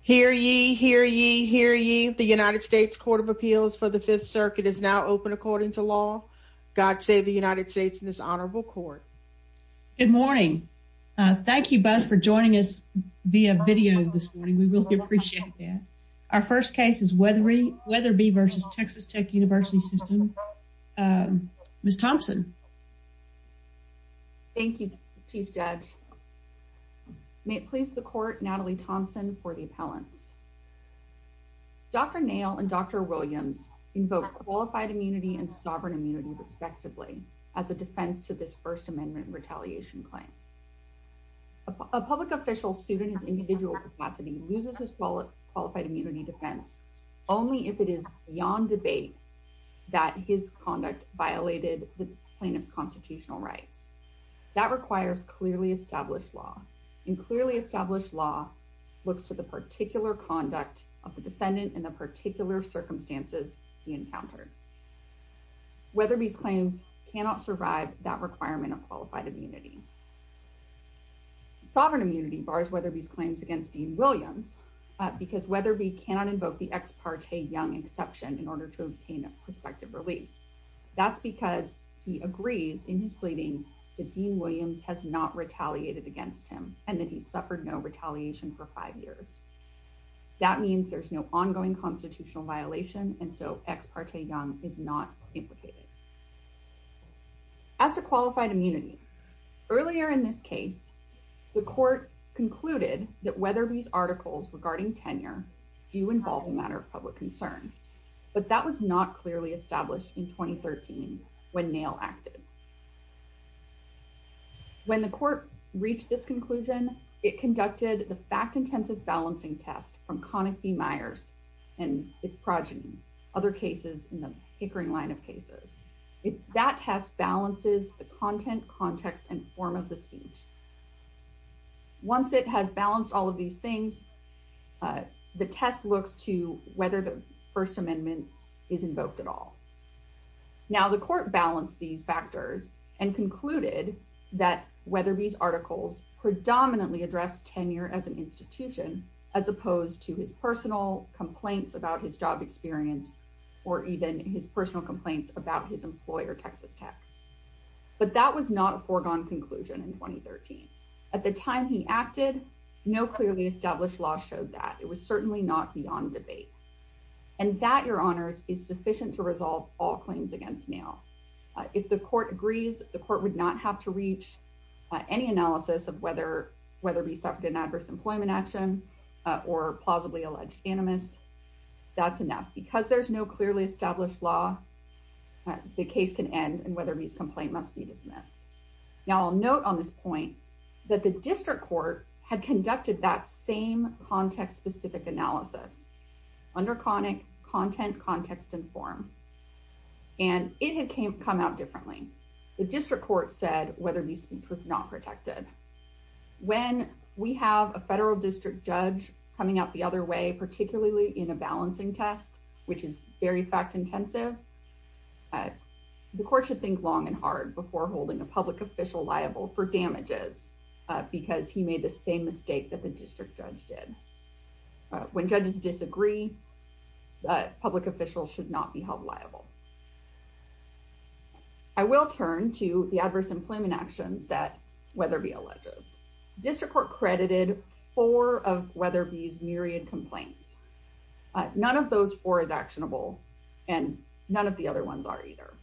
Hear ye, hear ye, hear ye. The United States Court of Appeals for the Fifth Circuit is now open according to law. God save the United States in this honorable court. Good morning. Thank you both for joining us via video this morning. We really appreciate that. Our first case is Wetherbe v. Texas Tech University System. Ms. Thompson. Thank you, Chief Judge. May it please the court, Natalie Thompson for the appellants. Dr. Nail and Dr. Williams invoke qualified immunity and sovereign immunity respectively as a defense to this First Amendment retaliation claim. A public official suit in his individual capacity loses his qualified immunity defense only if it is beyond debate that his conduct violated the plaintiff's constitutional rights. That requires clearly established law and clearly established law looks to the particular conduct of the defendant in the particular circumstances he encountered. Wetherbe's claims cannot survive that requirement of qualified immunity. Sovereign immunity bars Wetherbe's claims against Dean Williams because Wetherbe cannot invoke the prospective relief. That's because he agrees in his pleadings that Dean Williams has not retaliated against him and that he suffered no retaliation for five years. That means there's no ongoing constitutional violation and so ex parte young is not implicated. As to qualified immunity, earlier in this case, the court concluded that Wetherbe's clearly established in 2013 when Nail acted. When the court reached this conclusion, it conducted the fact intensive balancing test from Connick v. Myers and its progeny, other cases in the Pickering line of cases. That test balances the content, context and form of the speech. Once it has balanced all of these things, the test looks to whether the First Amendment is invoked at all. Now the court balanced these factors and concluded that Wetherbe's articles predominantly address tenure as an institution as opposed to his personal complaints about his job experience or even his personal complaints about his employer, Texas Tech. But that was not a foregone conclusion in 2013. At the time he acted, no clearly established law showed that. It was sufficient to resolve all claims against Nail. If the court agrees, the court would not have to reach any analysis of whether Wetherbe suffered an adverse employment action or plausibly alleged animus. That's enough. Because there's no clearly established law, the case can end and Wetherbe's complaint must be dismissed. Now I'll note on this point that the district court had conducted that same context specific analysis under content, context and form. And it had come out differently. The district court said Wetherbe's speech was not protected. When we have a federal district judge coming out the other way, particularly in a balancing test, which is very fact intensive, the court should think long and hard before holding a public official liable for damages because he made the same mistake that the district judge did. When judges disagree, public officials should not be held liable. I will turn to the adverse employment actions that Wetherbe alleges. District Court credited four of Wetherbe's myriad complaints. None of those four is actionable. And none of the other ones are either.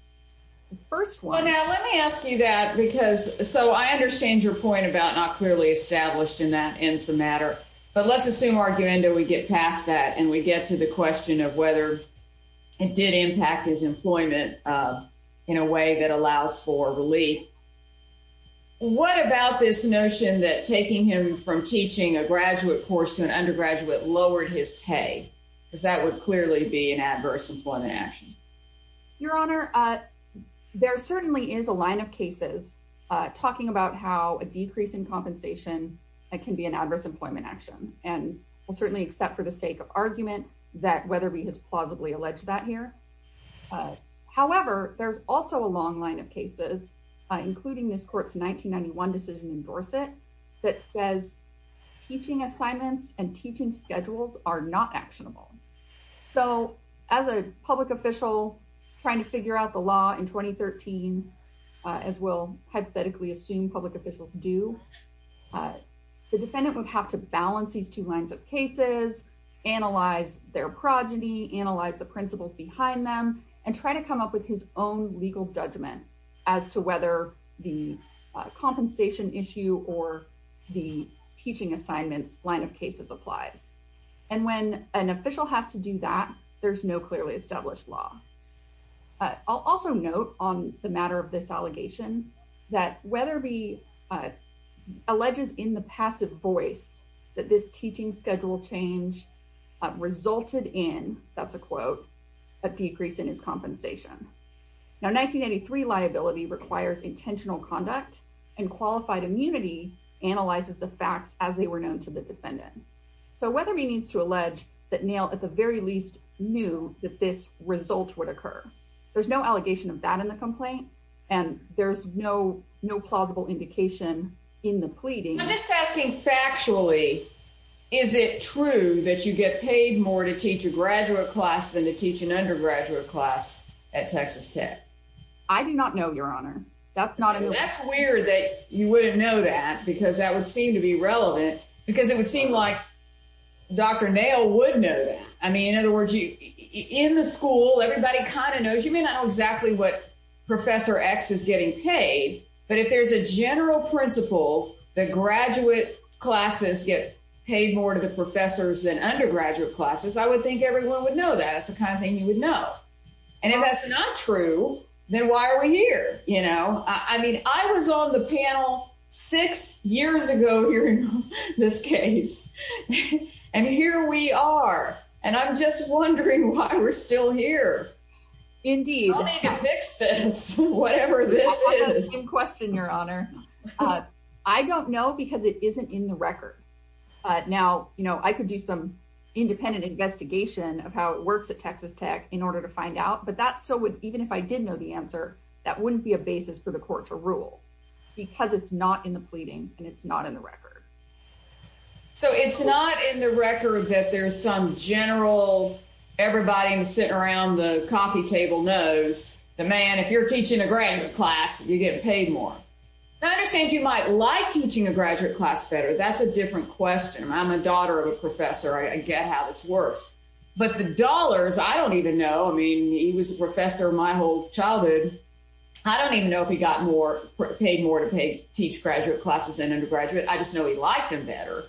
The first one. Now let me ask you that because so I understand your point about not clearly established and that ends the matter. But let's assume our agenda we get past that and we get to the question of whether it did impact his employment in a way that allows for relief. What about this notion that taking him from teaching a graduate course to an undergraduate lowered his pay? Because that would clearly be an adverse employment action. Your Honor, there certainly is a line of cases talking about how a decrease in compensation can be an adverse employment action. And we'll certainly accept for the sake of argument that Wetherbe has plausibly alleged that here. However, there's also a long line of cases, including this court's 1991 decision in Dorset that says teaching assignments and teaching schedules are not actionable. So as a public official trying to figure out the law in 2013, as we'll hypothetically assume public officials do, the defendant would have to balance these two lines of cases, analyze their progeny, analyze the principles behind them, and try to come up his own legal judgment as to whether the compensation issue or the teaching assignments line of cases applies. And when an official has to do that, there's no clearly established law. I'll also note on the matter of this allegation that Wetherbe alleges in the passive voice that this teaching schedule change resulted in, that's a quote, a decrease in his compensation. Now, 1993 liability requires intentional conduct and qualified immunity analyzes the facts as they were known to the defendant. So Wetherbe needs to allege that Nail at the very least knew that this result would occur. There's no allegation of that in the complaint, and there's no plausible indication in the pleading. I'm just asking factually, is it true that you get paid more to teach a graduate class than to teach an undergraduate class at Texas Tech? I do not know, Your Honor. That's not- That's weird that you wouldn't know that, because that would seem to be relevant, because it would seem like Dr. Nail would know that. I mean, in other words, in the school, everybody kind of knows. You may not know exactly what Professor X is getting paid, but if there's a general principle that graduate classes get paid more to the professors than everyone else, I would think everyone would know that. That's the kind of thing you would know. And if that's not true, then why are we here? I mean, I was on the panel six years ago hearing this case, and here we are, and I'm just wondering why we're still here. Indeed. I'll maybe fix this, whatever this is. Same question, Your Honor. I don't know, because it isn't in the record. Now, I could do some independent investigation of how it works at Texas Tech in order to find out, but that still would- even if I did know the answer, that wouldn't be a basis for the court to rule, because it's not in the pleadings, and it's not in the record. So, it's not in the record that there's some general- everybody sitting around the coffee table knows that, man, if you're teaching a graduate class, you get paid more. I understand you might like teaching a graduate class better. That's a different question. I'm a daughter of a teacher. I get how this works. But the dollars, I don't even know. I mean, he was a professor my whole childhood. I don't even know if he got more- paid more to pay- teach graduate classes than undergraduate. I just know he liked them better.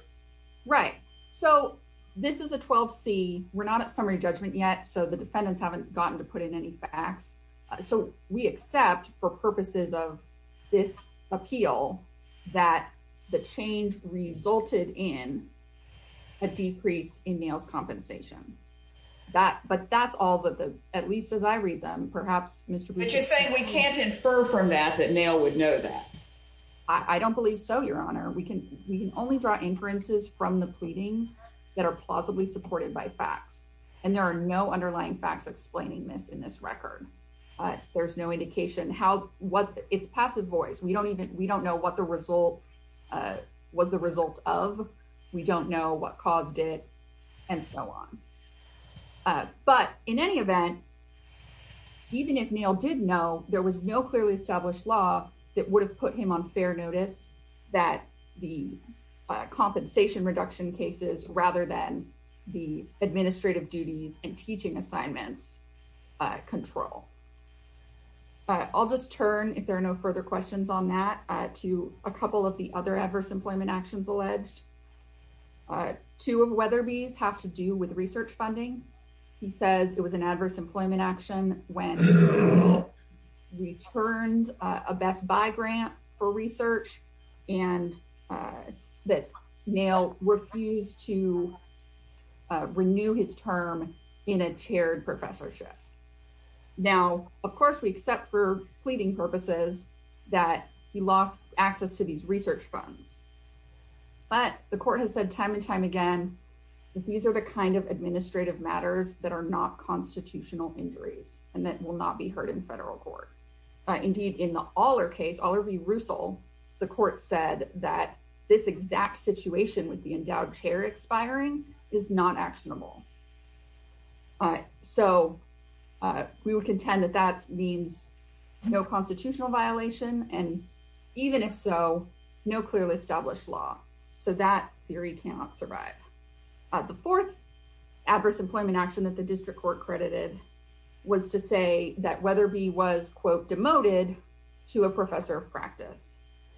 Right. So, this is a 12C. We're not at summary judgment yet, so the defendants haven't gotten to put in any facts. So, we accept, for purposes of this appeal, that the change resulted in a decrease in Nail's compensation. That- but that's all that the- at least as I read them, perhaps Mr. Butch- But you're saying we can't infer from that that Nail would know that. I don't believe so, Your Honor. We can- we can only draw inferences from the pleadings that are plausibly supported by facts, and there are no underlying facts explaining this in this record. There's no indication how- what- it's passive voice. We don't even- we don't know what the result- was the result of. We don't know what caused it, and so on. But, in any event, even if Nail did know, there was no clearly established law that would have put him on fair notice that the compensation reduction cases, rather than the administrative duties and teaching assignments, control. I'll just turn, if there are no further questions on that, to a couple of the other adverse employment actions alleged. Two of Weatherby's have to do with research funding. He says it was an adverse employment action when Nail returned a Best Buy grant for research, and that Nail refused to renew his term in a chaired professorship. Now, of course, we accept for pleading purposes that he lost access to these research funds, but the court has said time and time again that these are the kind of administrative matters that are not constitutional injuries, and that will not be heard in federal court. Indeed, in the Aller case, Aller v. Russell, the court said that this exact situation with endowed chair expiring is not actionable. So, we would contend that that means no constitutional violation, and even if so, no clearly established law. So, that theory cannot survive. The fourth adverse employment action that the district court credited was to say that Weatherby was, quote, demoted to a professor of practice.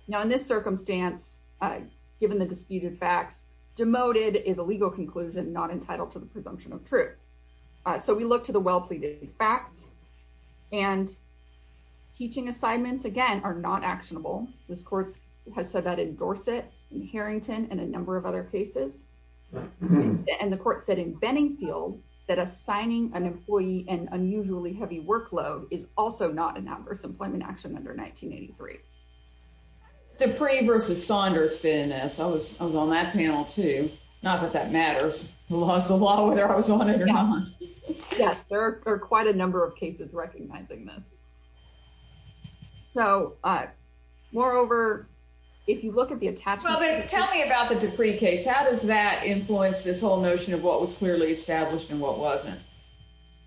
Now, in this circumstance, given the disputed facts, demoted is a legal conclusion not entitled to the presumption of truth. So, we look to the well-pleaded facts, and teaching assignments, again, are not actionable. This court has said that in Dorset, in Harrington, and a number of other cases, and the court said in Benningfield that assigning an employee an unusually heavy workload is also not an adverse employment action under 1983. Dupree v. Saunders, I was on that panel, too. Not that that matters. I lost a lot, whether I was on it or not. Yes, there are quite a number of cases recognizing this. So, moreover, if you look at the attachments. Tell me about the Dupree case. How does that influence this whole notion of what was clearly established and what wasn't?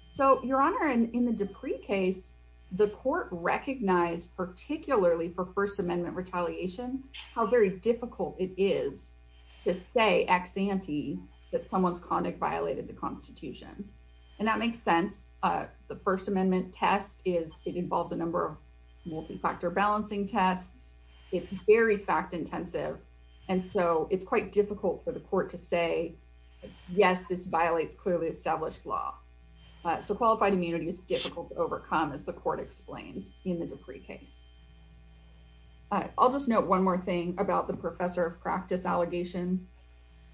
So, Your Honor, in the Dupree case, the court recognized, particularly for First Amendment retaliation, how very difficult it is to say ex ante that someone's conduct violated the Constitution. And that makes sense. The First Amendment test is, it involves a number of multi-factor balancing tests. It's very fact-intensive. And so, it's quite difficult for the court to say, yes, this violates clearly established law. So, qualified immunity is difficult to overcome, as the court explains in the Dupree case. I'll just note one more thing about the professor of practice allegation.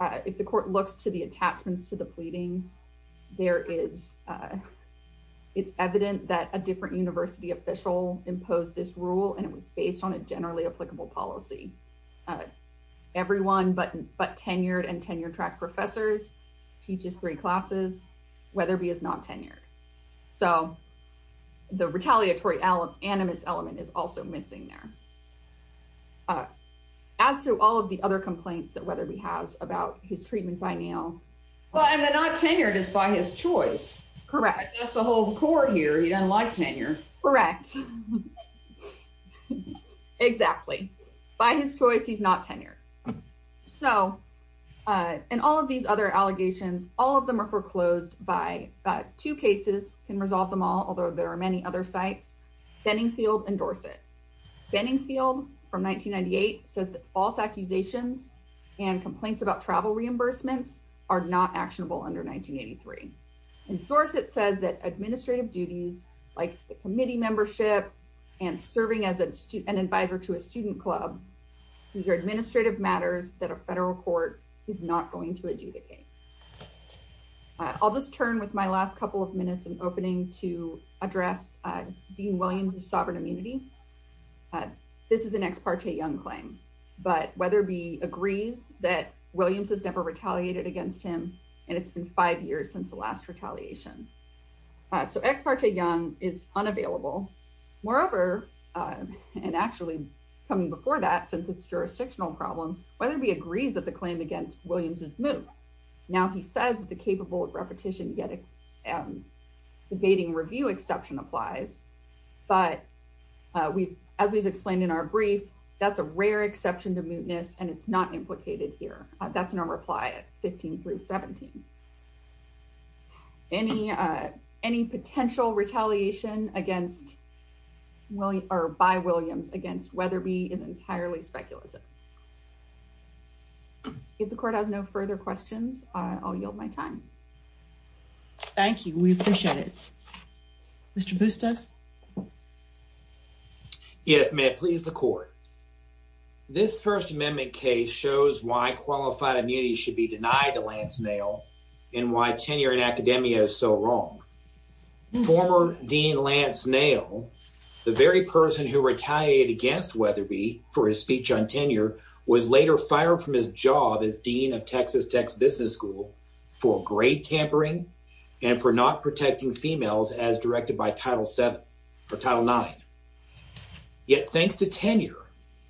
If the court looks to the attachments to the pleadings, there is, it's evident that a different university official imposed this rule, and it was based on a generally applicable policy. Everyone but tenured and tenure-track professors teaches three classes. Weatherby is not tenured. So, the retaliatory animus element is also missing there. As to all of the other complaints that Weatherby has about his treatment by now. Well, and the not tenured is by his choice. Correct. That's the whole core here. He doesn't like tenure. Correct. Exactly. By his choice, he's not tenured. So, and all of these other allegations, all of them are foreclosed by two cases can resolve them all. Although, there are many other sites, Benningfield and Dorset. Benningfield from 1998 says that false accusations and complaints about travel reimbursements are not actionable under 1983. And Dorset says that administrative duties like the committee membership and serving as an advisor to a student club, these are administrative matters that a federal court is not going to adjudicate. I'll just turn with my last couple of minutes and opening to address Dean Williams' sovereign immunity. This is an ex parte young claim, but Weatherby agrees that Williams has never retaliated against him. And it's been five years since the last retaliation. So, ex parte young is unavailable. Moreover, and actually coming before that, since it's jurisdictional problems, Weatherby agrees that the claim against Williams is moot. Now he says that the capable repetition debating review exception applies. But we've, as we've explained in our brief, that's a rare exception to mootness and it's not implicated here. That's in our reply at 15 through 17. Any potential retaliation by Williams against Weatherby is entirely speculative. If the court has no further questions, I'll yield my time. Thank you. We appreciate it. Mr. Bustos? Yes, may it please the court. This First Amendment case shows why qualified immunity should be denied to Lance Nail and why tenure in academia is so wrong. Former Dean Lance Nail, the very person who retaliated against Weatherby for his speech on tenure, was later fired from his job as Dean of Texas Tech's Business School for grade tampering and for not protecting females as directed by Title 7 or Title 9. Yet, thanks to tenure,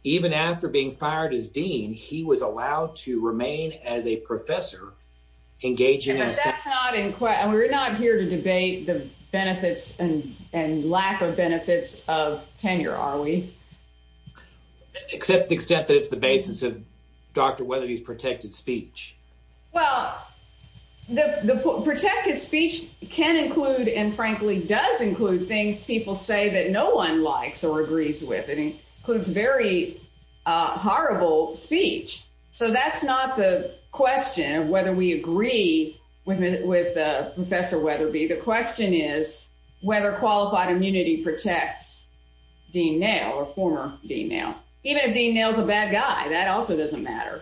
even after being fired as Dean, he was allowed to remain as a professor engaging in... But that's not in question. We're not here to debate the benefits and lack of benefits of tenure, are we? Except the extent that it's the basis of Weatherby's protected speech. Well, the protected speech can include, and frankly does include, things people say that no one likes or agrees with. It includes very horrible speech. So that's not the question of whether we agree with Professor Weatherby. The question is whether qualified immunity protects Dean Nail or former Dean Nail. Even if Dean Nail is a bad guy, that also doesn't matter.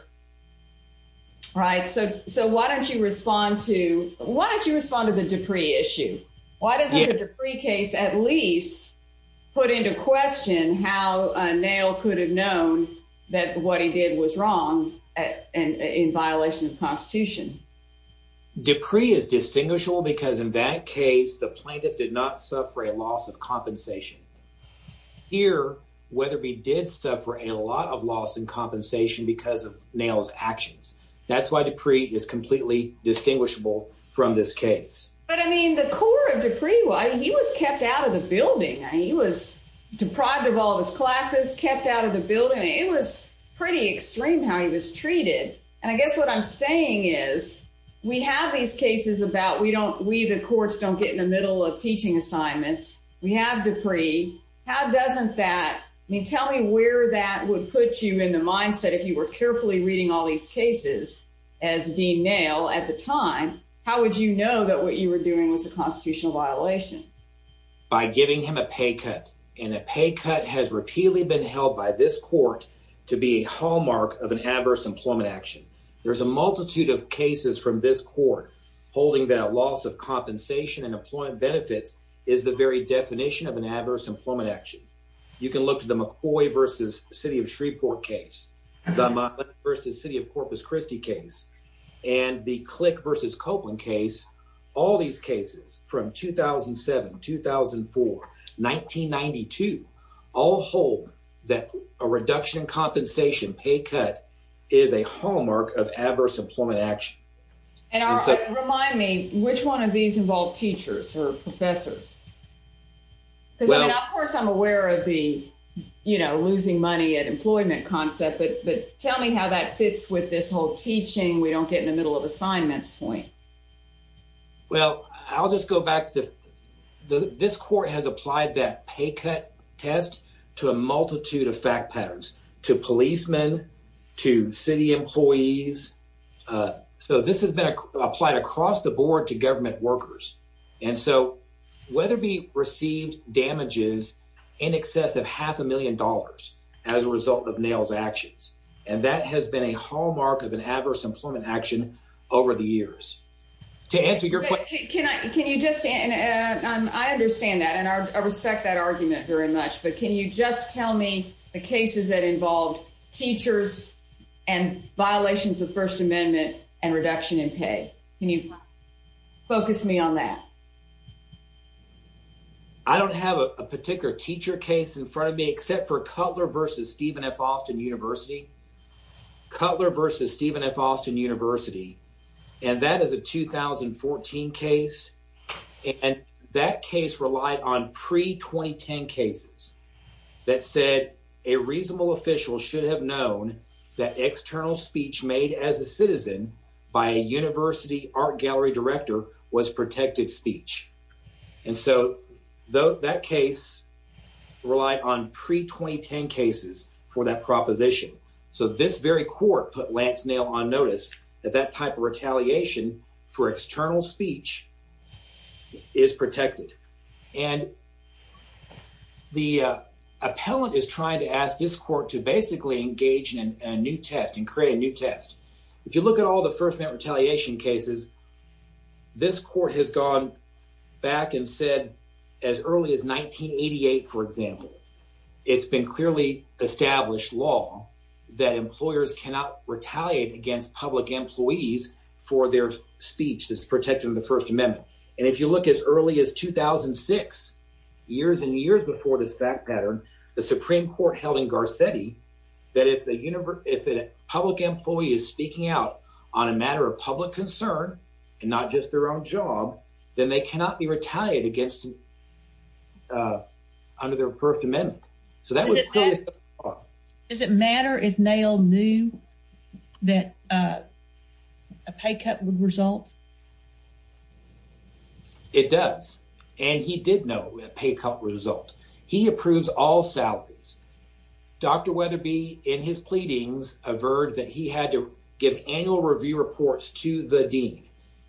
So why don't you respond to the Dupree issue? Why doesn't the Dupree case at least put into question how Nail could have known that what he did was wrong in violation of the Constitution? Dupree is distinguishable because in that case, the plaintiff did not suffer a loss of compensation. Here, Weatherby did suffer a lot of loss in compensation because of Nail's actions. That's why Dupree is completely distinguishable from this case. But I mean, the core of Dupree, he was kept out of the building. He was deprived of all of his classes, kept out of the building. It was pretty extreme how he was treated. And I guess what I'm saying is, we have these cases about we the courts don't get in the middle of teaching assignments. We have Dupree. How doesn't that — I mean, tell me where that would put you in the mindset if you were carefully reading all these cases as Dean Nail at the time. How would you know that what you were doing was a constitutional violation? By giving him a pay cut. And a pay cut has repeatedly been held by this court to be a hallmark of an adverse employment action. There's a multitude of cases from this court holding that a loss of compensation and employment benefits is the very definition of an adverse employment action. You can look to the McCoy v. City of Shreveport case, the Monmouth v. City of Corpus Christi case, and the Click v. Copeland case. All these cases from 2007, 2004, 1992, all hold that a reduction in compensation pay cut is a hallmark of adverse employment action. And remind me, which one of these involve teachers or professors? Because, I mean, of course I'm aware of the, you know, losing money at employment concept, but tell me how that fits with this whole teaching we don't get in the middle of assignments point. Well, I'll just go back to the — this court has applied that pay cut test to a multitude of fact patterns — to policemen, to city employees. So this has been applied across the board to government workers. And so, Weatherby received damages in excess of half a million dollars as a result of Nail's actions. And that has been a hallmark of an adverse employment action over the years. To answer your question — Can I — can you just — I understand that, and I respect that argument very much — but can you just tell me the cases that involved teachers and violations of First Amendment and reduction in pay? Can you focus me on that? I don't have a particular teacher case in front of me except for Cutler v. Stephen F. Austin University. Cutler v. Stephen F. Austin University. And that is a 2014 case, and that case relied on pre-2010 cases that said a reasonable official should have known that external speech made as a citizen by a university art gallery director was protected speech. And so, that case relied on pre-2010 cases for that proposition. So this very court put Lance Nail on notice that that type of retaliation for external speech is protected. And the appellant is trying to ask this court to basically engage in a new test and create a new test. If you look at all the First Amendment retaliation cases, this court has gone back and retaliated against public employees for their speech that's protected in the First Amendment. And if you look as early as 2006, years and years before this fact pattern, the Supreme Court held in Garcetti that if a public employee is speaking out on a matter of public concern and not just their own job, then they cannot be retaliated against under their First Amendment. So that that a pay cut would result? It does, and he did know a pay cut result. He approves all salaries. Dr. Weatherby, in his pleadings, averred that he had to give annual review reports to the dean,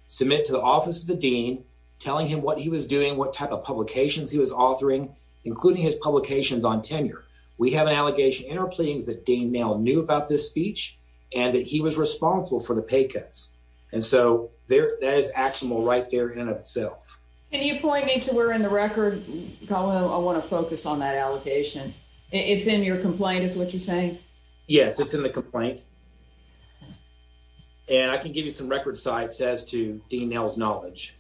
submit to the office of the dean, telling him what he was doing, what type of publications he was authoring, including his publications on tenure. We have an allegation in our pleadings that Dean Nail knew about this speech and that he was responsible for the pay cuts. And so there that is actionable right there in itself. Can you point me to where in the record? I want to focus on that allocation. It's in your complaint is what you're saying. Yes, it's in the complaint. And I can give you some record sites as to Dean Nail's knowledge.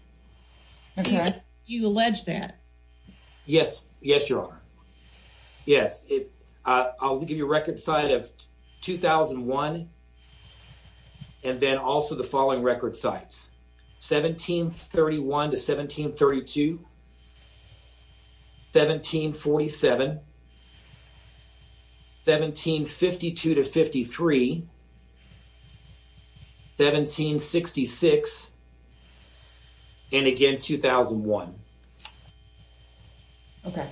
Okay, you allege that? Yes, yes, Your Honor. Yes, I'll give you a record site of 2001 and then also the following record sites. 1731 to 1732. 1747. 1752 to 53. 1766. And again, 2001. Okay,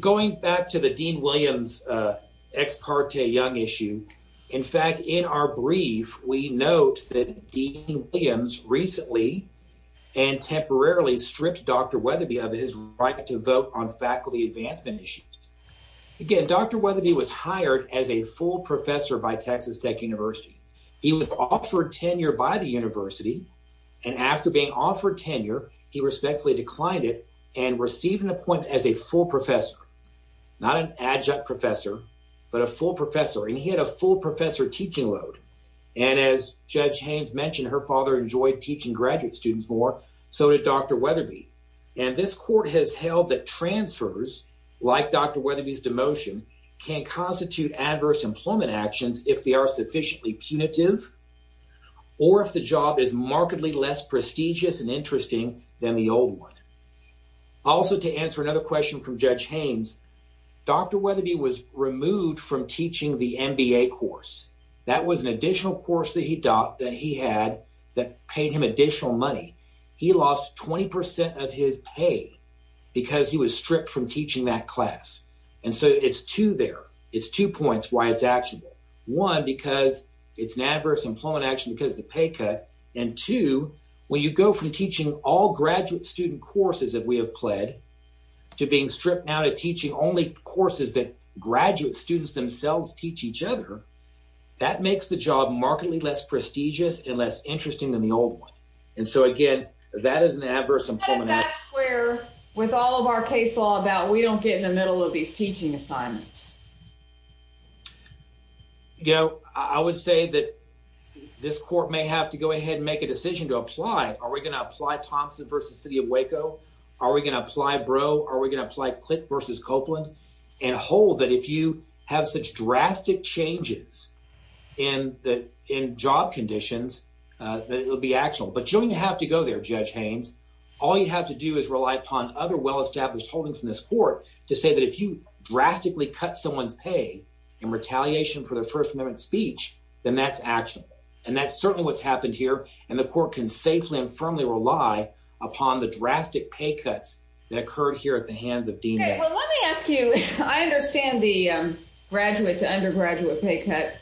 going back to the Dean Williams ex parte young issue. In fact, in our brief, we note that Dean Williams recently and temporarily stripped Dr. Weatherby of his right to vote on faculty advancement issues. Again, Dr. Weatherby was hired as a full professor by Texas Tech University. He was offered tenure by the university. And after being offered tenure, he respectfully declined it and received an appointment as a full professor, not an adjunct professor, but a full professor. And he had a full professor teaching load. And as Judge Haynes mentioned, her father enjoyed teaching graduate students more. So did Dr. Weatherby. And this court has held that transfers like Dr. Weatherby's demotion can constitute adverse employment actions if they are punitive or if the job is markedly less prestigious and interesting than the old one. Also, to answer another question from Judge Haynes, Dr. Weatherby was removed from teaching the MBA course. That was an additional course that he had that paid him additional money. He lost 20% of his pay because he was stripped from teaching that class. And so it's two there. It's two points why it's actionable. One, because it's an adverse employment action because of the pay cut. And two, when you go from teaching all graduate student courses that we have pled to being stripped now to teaching only courses that graduate students themselves teach each other, that makes the job markedly less prestigious and less interesting than the old one. And so again, that is an adverse employment action. What does that square with all of our case law about we don't get in the middle of these teaching assignments? You know, I would say that this court may have to go ahead and make a decision to apply. Are we going to apply Thompson v. City of Waco? Are we going to apply Breaux? Are we going to apply Click v. Copeland? And hold that if you have such drastic changes in job conditions, that it'll be actionable. But you don't even have to go there, Judge Haynes. All you have to do is rely upon other well-established holdings from this court to say that if you drastically cut someone's pay in retaliation for their First Amendment speech, then that's actionable. And that's certainly what's happened here. And the court can safely and firmly rely upon the drastic pay cuts that occurred here at the hands of Dean. Well, let me ask you, I understand the graduate to undergraduate pay cut,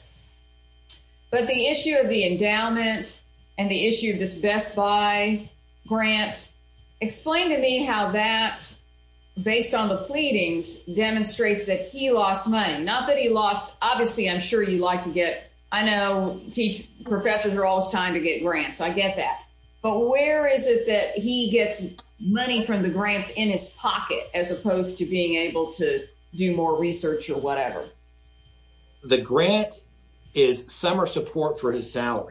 but the issue of the endowment and the issue of this Best Buy grant. Explain to me how that, based on the pleadings, demonstrates that he lost money. Not that he lost, obviously, I'm sure you'd like to get, I know professors are always trying to get grants, I get that. But where is it that he gets money from the grants in his pocket, as opposed to being able to do more research or whatever? The grant is summer support for his grant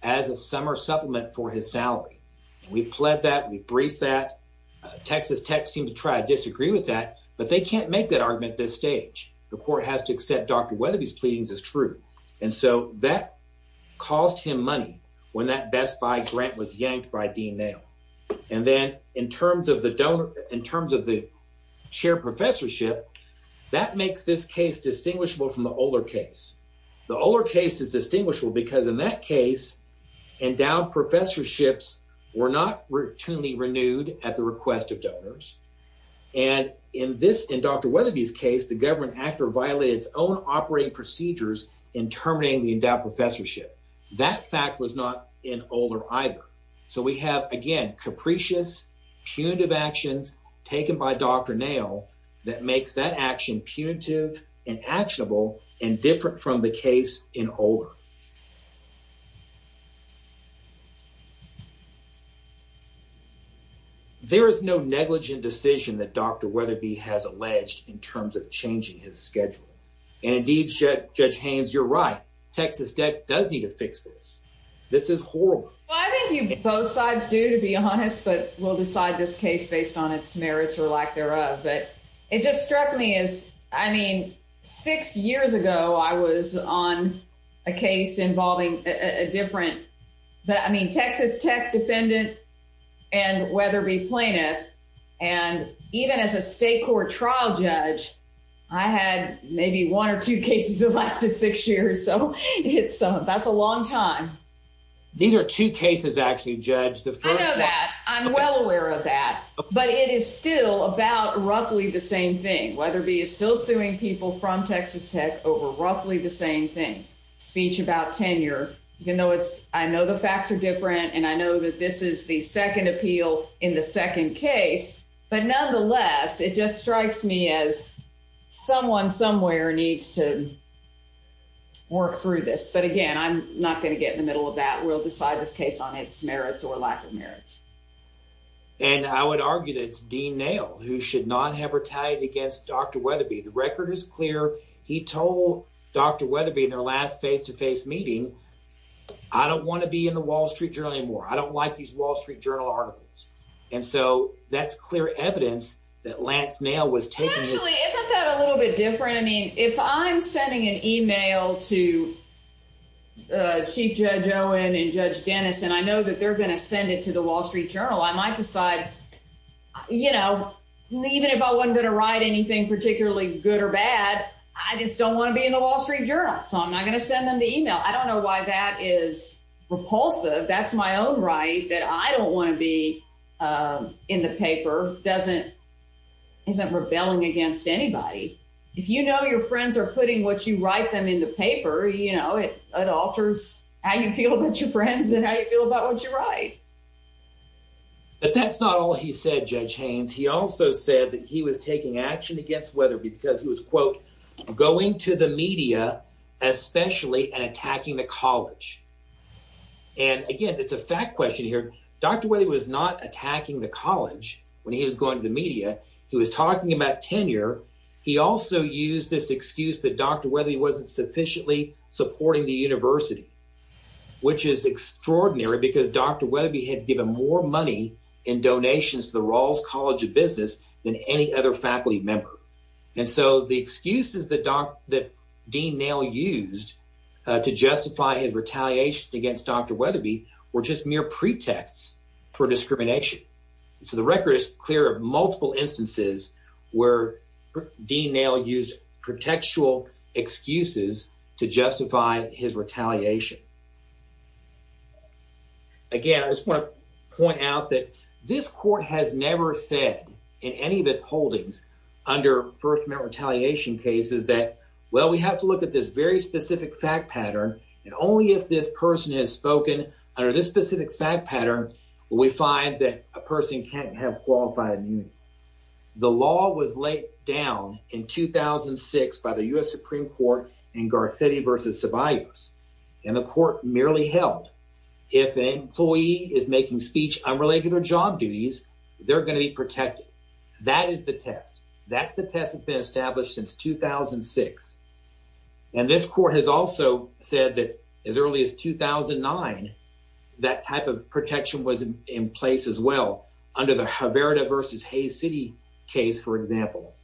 as a summer supplement for his salary. We've pled that, we've briefed that. Texas Tech seemed to try to disagree with that, but they can't make that argument at this stage. The court has to accept Dr. Weatherby's pleadings as true. And so that cost him money when that Best Buy grant was yanked by Dean Nail. And then in terms of the chair professorship, that makes this case distinguishable, because in that case, endowed professorships were not routinely renewed at the request of donors. And in this, in Dr. Weatherby's case, the government actor violated its own operating procedures in terminating the endowed professorship. That fact was not in Oler either. So we have, again, capricious punitive actions taken by Dr. Nail that makes that action punitive and actionable and different from the case in Oler. There is no negligent decision that Dr. Weatherby has alleged in terms of changing his schedule. And indeed, Judge Haynes, you're right. Texas Tech does need to fix this. This is horrible. Well, I think both sides do, to be honest, but we'll decide this case based on its merits or thereof. But it just struck me as, I mean, six years ago, I was on a case involving a different, but I mean, Texas Tech defendant and Weatherby plaintiff. And even as a state court trial judge, I had maybe one or two cases that lasted six years. So that's a long time. These are two cases, actually, Judge. I know that. I'm well aware of that. But it is still about roughly the same thing. Weatherby is still suing people from Texas Tech over roughly the same thing. Speech about tenure. I know the facts are different and I know that this is the second appeal in the second case, but nonetheless, it just strikes me as someone somewhere needs to work through this. But again, I'm not going to get in the middle of that. We'll argue that it's Dean Nail who should not have retaliated against Dr. Weatherby. The record is clear. He told Dr. Weatherby in their last face-to-face meeting, I don't want to be in the Wall Street Journal anymore. I don't like these Wall Street Journal articles. And so that's clear evidence that Lance Nail was taking. Actually, isn't that a little bit different? I mean, if I'm sending an email to Chief Judge Owen and Judge Dennis, and I know that they're going to send it to the Wall Street Journal, I might decide, even if I wasn't going to write anything particularly good or bad, I just don't want to be in the Wall Street Journal. So I'm not going to send them the email. I don't know why that is repulsive. That's my own right that I don't want to be in the paper. It isn't rebelling against anybody. If you know your friends are putting what you write them in the paper, it alters how you feel about your friends and how you feel about what you write. But that's not all he said, Judge Haynes. He also said that he was taking action against Weatherby because he was, quote, going to the media especially and attacking the college. And again, it's a fact question here. Dr. Weatherby was not attacking the college when he was going to the media. He was talking about tenure. He also used this excuse that Dr. Weatherby had given more money in donations to the Rawls College of Business than any other faculty member. And so the excuses that Dean Nail used to justify his retaliation against Dr. Weatherby were just mere pretexts for discrimination. So the record is clear of multiple instances where Dean Nail used pretextual excuses to justify his retaliation. Again, I just want to point out that this court has never said in any of its holdings under First Amendment retaliation cases that, well, we have to look at this very specific fact pattern and only if this person has spoken under this specific fact pattern will we find that a person can't have qualified immunity. The law was laid down in 2006 by the U.S. Supreme Court in Garcetti versus Ceballos. And the court merely held if an employee is making speech unrelated to their job duties, they're going to be protected. That is the test. That's the test that's been established since 2006. And this court has also said that as early as 2009, that type of protection was in place as well under the Haverda versus Hayes City case, for example,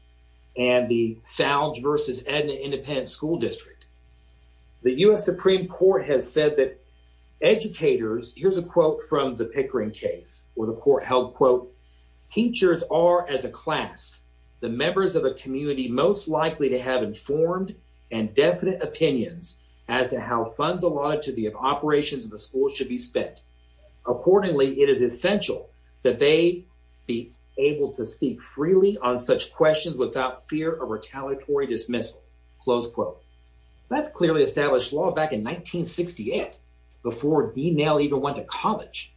and the Salds versus Edna Independent School District. The U.S. Supreme Court has said that educators, here's a quote from the Pickering case where the court held, quote, teachers are, as a class, the members of a community most likely to have informed and definite opinions as to how funds allotted to the operations of the school should be spent. Accordingly, it is essential that they be able to speak freely on such questions without fear of retaliatory dismissal. Close quote. That's clearly established law back in 1968 before Dean Nail even went to college.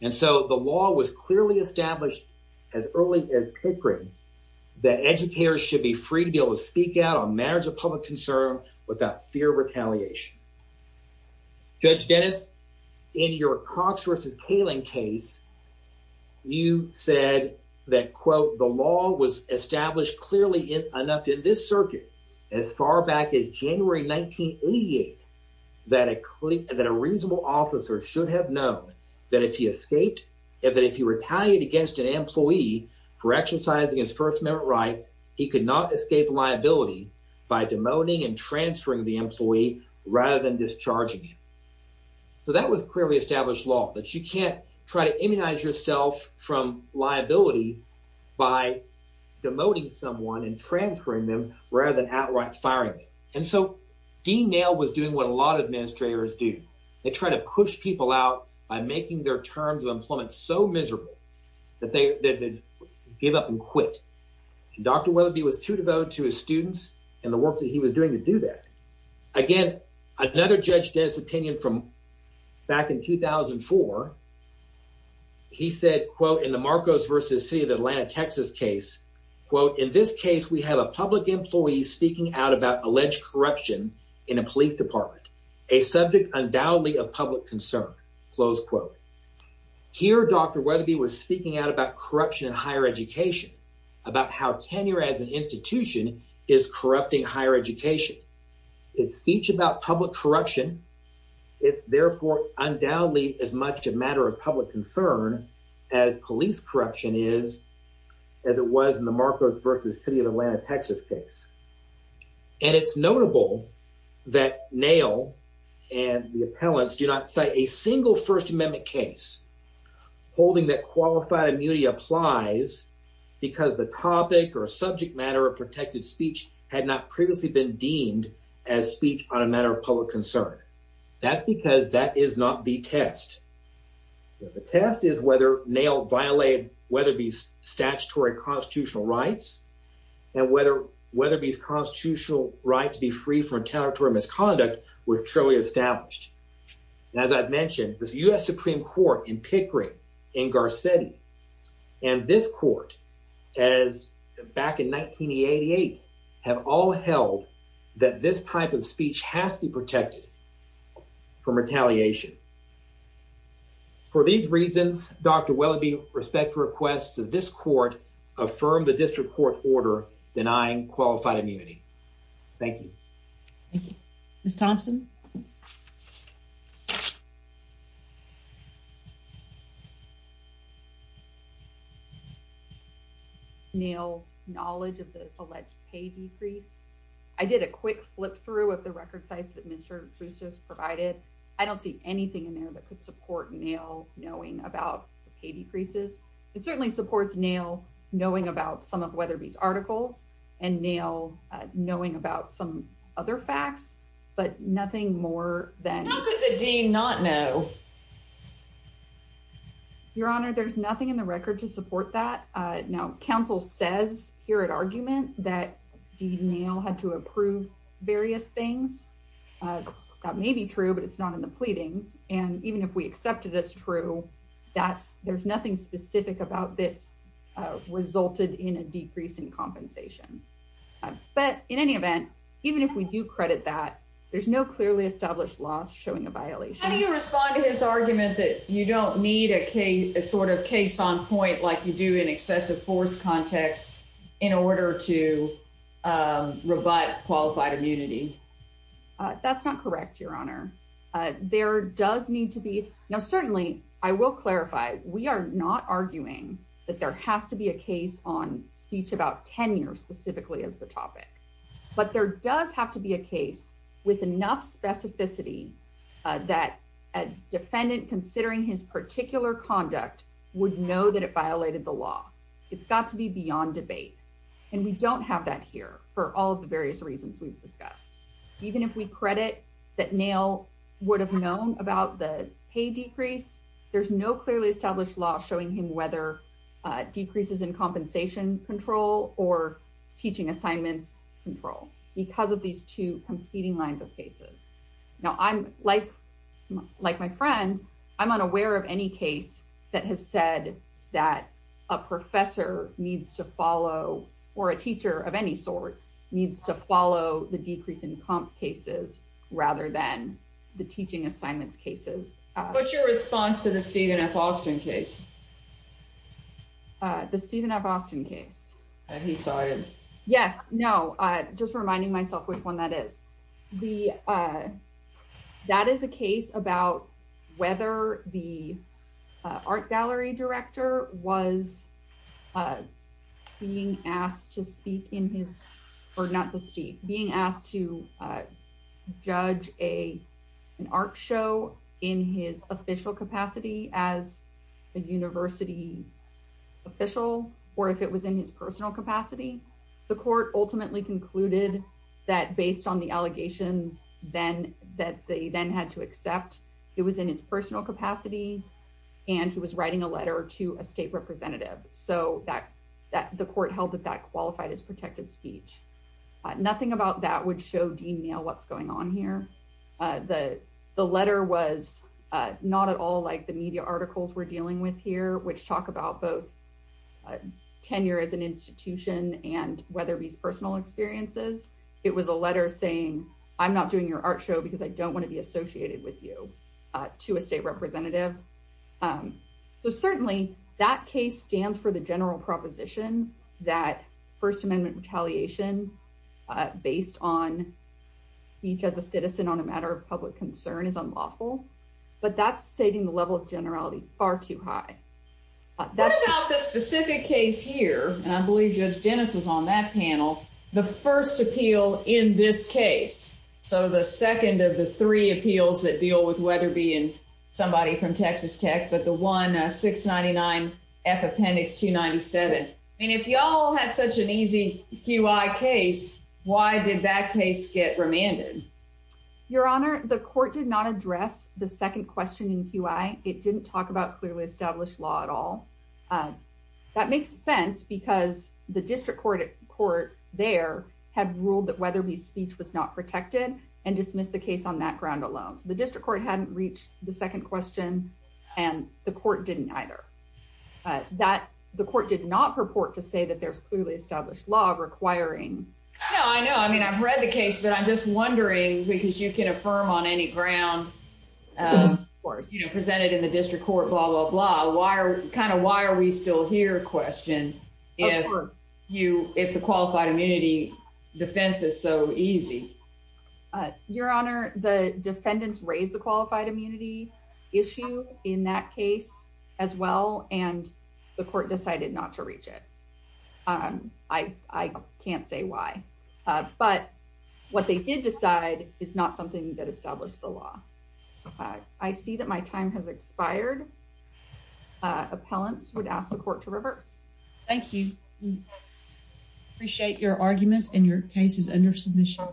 And so the law was clearly established as early as Pickering that educators should be free to be able to speak out on matters of public concern without fear of retaliation. Judge Dennis, in your Cox versus Kaling case, you said that, quote, the law was established clearly enough in this circuit as far back as January 1988 that a reasonable officer should have known that if he escaped, that if he retaliated against an employee for exercising his First Amendment rights, he could not escape liability by demoting and transferring the employee rather than discharging him. So that was clearly established law that you can't try to immunize yourself from liability by demoting someone and transferring them rather than outright firing them. And so Dean Nail was doing what a lot of administrators do. They try to push people out by making their terms of employment so miserable that they gave up and quit. Dr. Weatherby was too devoted to his students and the work that he was doing to do that. Again, another judge Dennis opinion from back in 2004. He said, quote, in the Marcos versus City of Atlanta, Texas case, quote, In this case, we have a public employee speaking out about alleged corruption in a police department, a subject undoubtedly of public concern, close quote. Here, Dr. Weatherby was speaking out about corruption in higher education, about how tenure as an institution is corrupting higher education. It's speech about public corruption. It's therefore undoubtedly as much a matter of public concern as police corruption is, as it was in the Marcos versus City of Atlanta, Texas case. And it's notable that Nail and the appellants do not cite a single First Amendment case holding that qualified immunity applies because the topic or subject matter of protected speech had not previously been deemed as speech on a matter of public concern. That's because that is not the test. The test is whether Nail violated Weatherby's statutory constitutional rights and whether Weatherby's constitutional right to be free from territory misconduct was truly established. As I've mentioned, this U.S. Supreme Court in Pickering in Garcetti and this court as back in 1988 have all held that this type of speech has to be protected from retaliation. For these reasons, Dr. Weatherby respects requests of this court affirmed the district court order denying qualified immunity. Thank you. Thank you, Miss Thompson. Nails knowledge of the alleged pay decrease. I did a quick flip through of the record size that Mr. Bruce just provided. I don't see anything in there that could support Nail knowing about pay decreases. It certainly supports Nail knowing about some of Weatherby's articles and Nail knowing about some other facts, but nothing more than the dean not know. Your Honor, there's nothing in the record to support that. Now, here at argument that Dean Nail had to approve various things. That may be true, but it's not in the pleadings. And even if we accepted it's true, that's there's nothing specific about this resulted in a decrease in compensation. But in any event, even if we do credit that, there's no clearly established loss showing a violation. How do you respond to his argument that you don't need a sort of case on point like you do in excessive force context in order to rebut qualified immunity? That's not correct, Your Honor. There does need to be now. Certainly, I will clarify. We are not arguing that there has to be a case on speech about ten years specifically as the topic. But there does have to be a case with enough specificity that a defendant considering his particular conduct would know that it violated the law. It's got to be beyond debate, and we don't have that here for all of the various reasons we've discussed. Even if we credit that Nail would have known about the pay decrease, there's no clearly established law showing him whether decreases in compensation control or teaching assignments control because of these two competing lines of cases. Now I'm like like my friend. I'm unaware of any case that has said that a professor needs to follow or a teacher of any sort needs to follow the decrease in comp cases rather than the teaching assignments cases. What's your response to the Stephen F. Austin case? The Stephen F. Austin case? Yes. No, just reminding myself which one that is. That is a case about whether the art gallery director was being asked to speak in his or not to speak being asked to judge a an art show in his official capacity as a university official or if it was in his personal capacity. The court ultimately concluded that based on the allegations then that they then had to accept it was in his personal capacity and he was writing a Nothing about that would show Dean Nail what's going on here. The letter was not at all like the media articles we're dealing with here which talk about both tenure as an institution and whether these personal experiences. It was a letter saying I'm not doing your art show because I don't want to be associated with you to a state representative. So certainly that case stands for the general proposition that First Amendment retaliation based on speech as a citizen on a matter of public concern is unlawful but that's setting the level of generality far too high. What about the specific case here and I believe Judge Dennis was on that panel the first appeal in this case so the second of the three appeals that deal with whether being somebody from Texas but the one 699 F appendix 297. I mean if y'all had such an easy QI case why did that case get remanded? Your honor the court did not address the second question in QI. It didn't talk about clearly established law at all. That makes sense because the district court there had ruled that whether we speech was not protected and dismissed the case on that ground alone. So the district court hadn't reached the second question and the court didn't either. That the court did not purport to say that there's clearly established law requiring. No I know I mean I've read the case but I'm just wondering because you can affirm on any ground of course you know presented in the district court blah blah blah why are kind of why are we still here question if you if the qualified immunity defense is so easy. Your honor the defendants raised the qualified immunity issue in that case as well and the court decided not to reach it. I can't say why but what they did decide is not something that established the law. I see that my time has expired. Uh appellants would ask the court to reverse. Thank you appreciate your arguments and your case is under submission.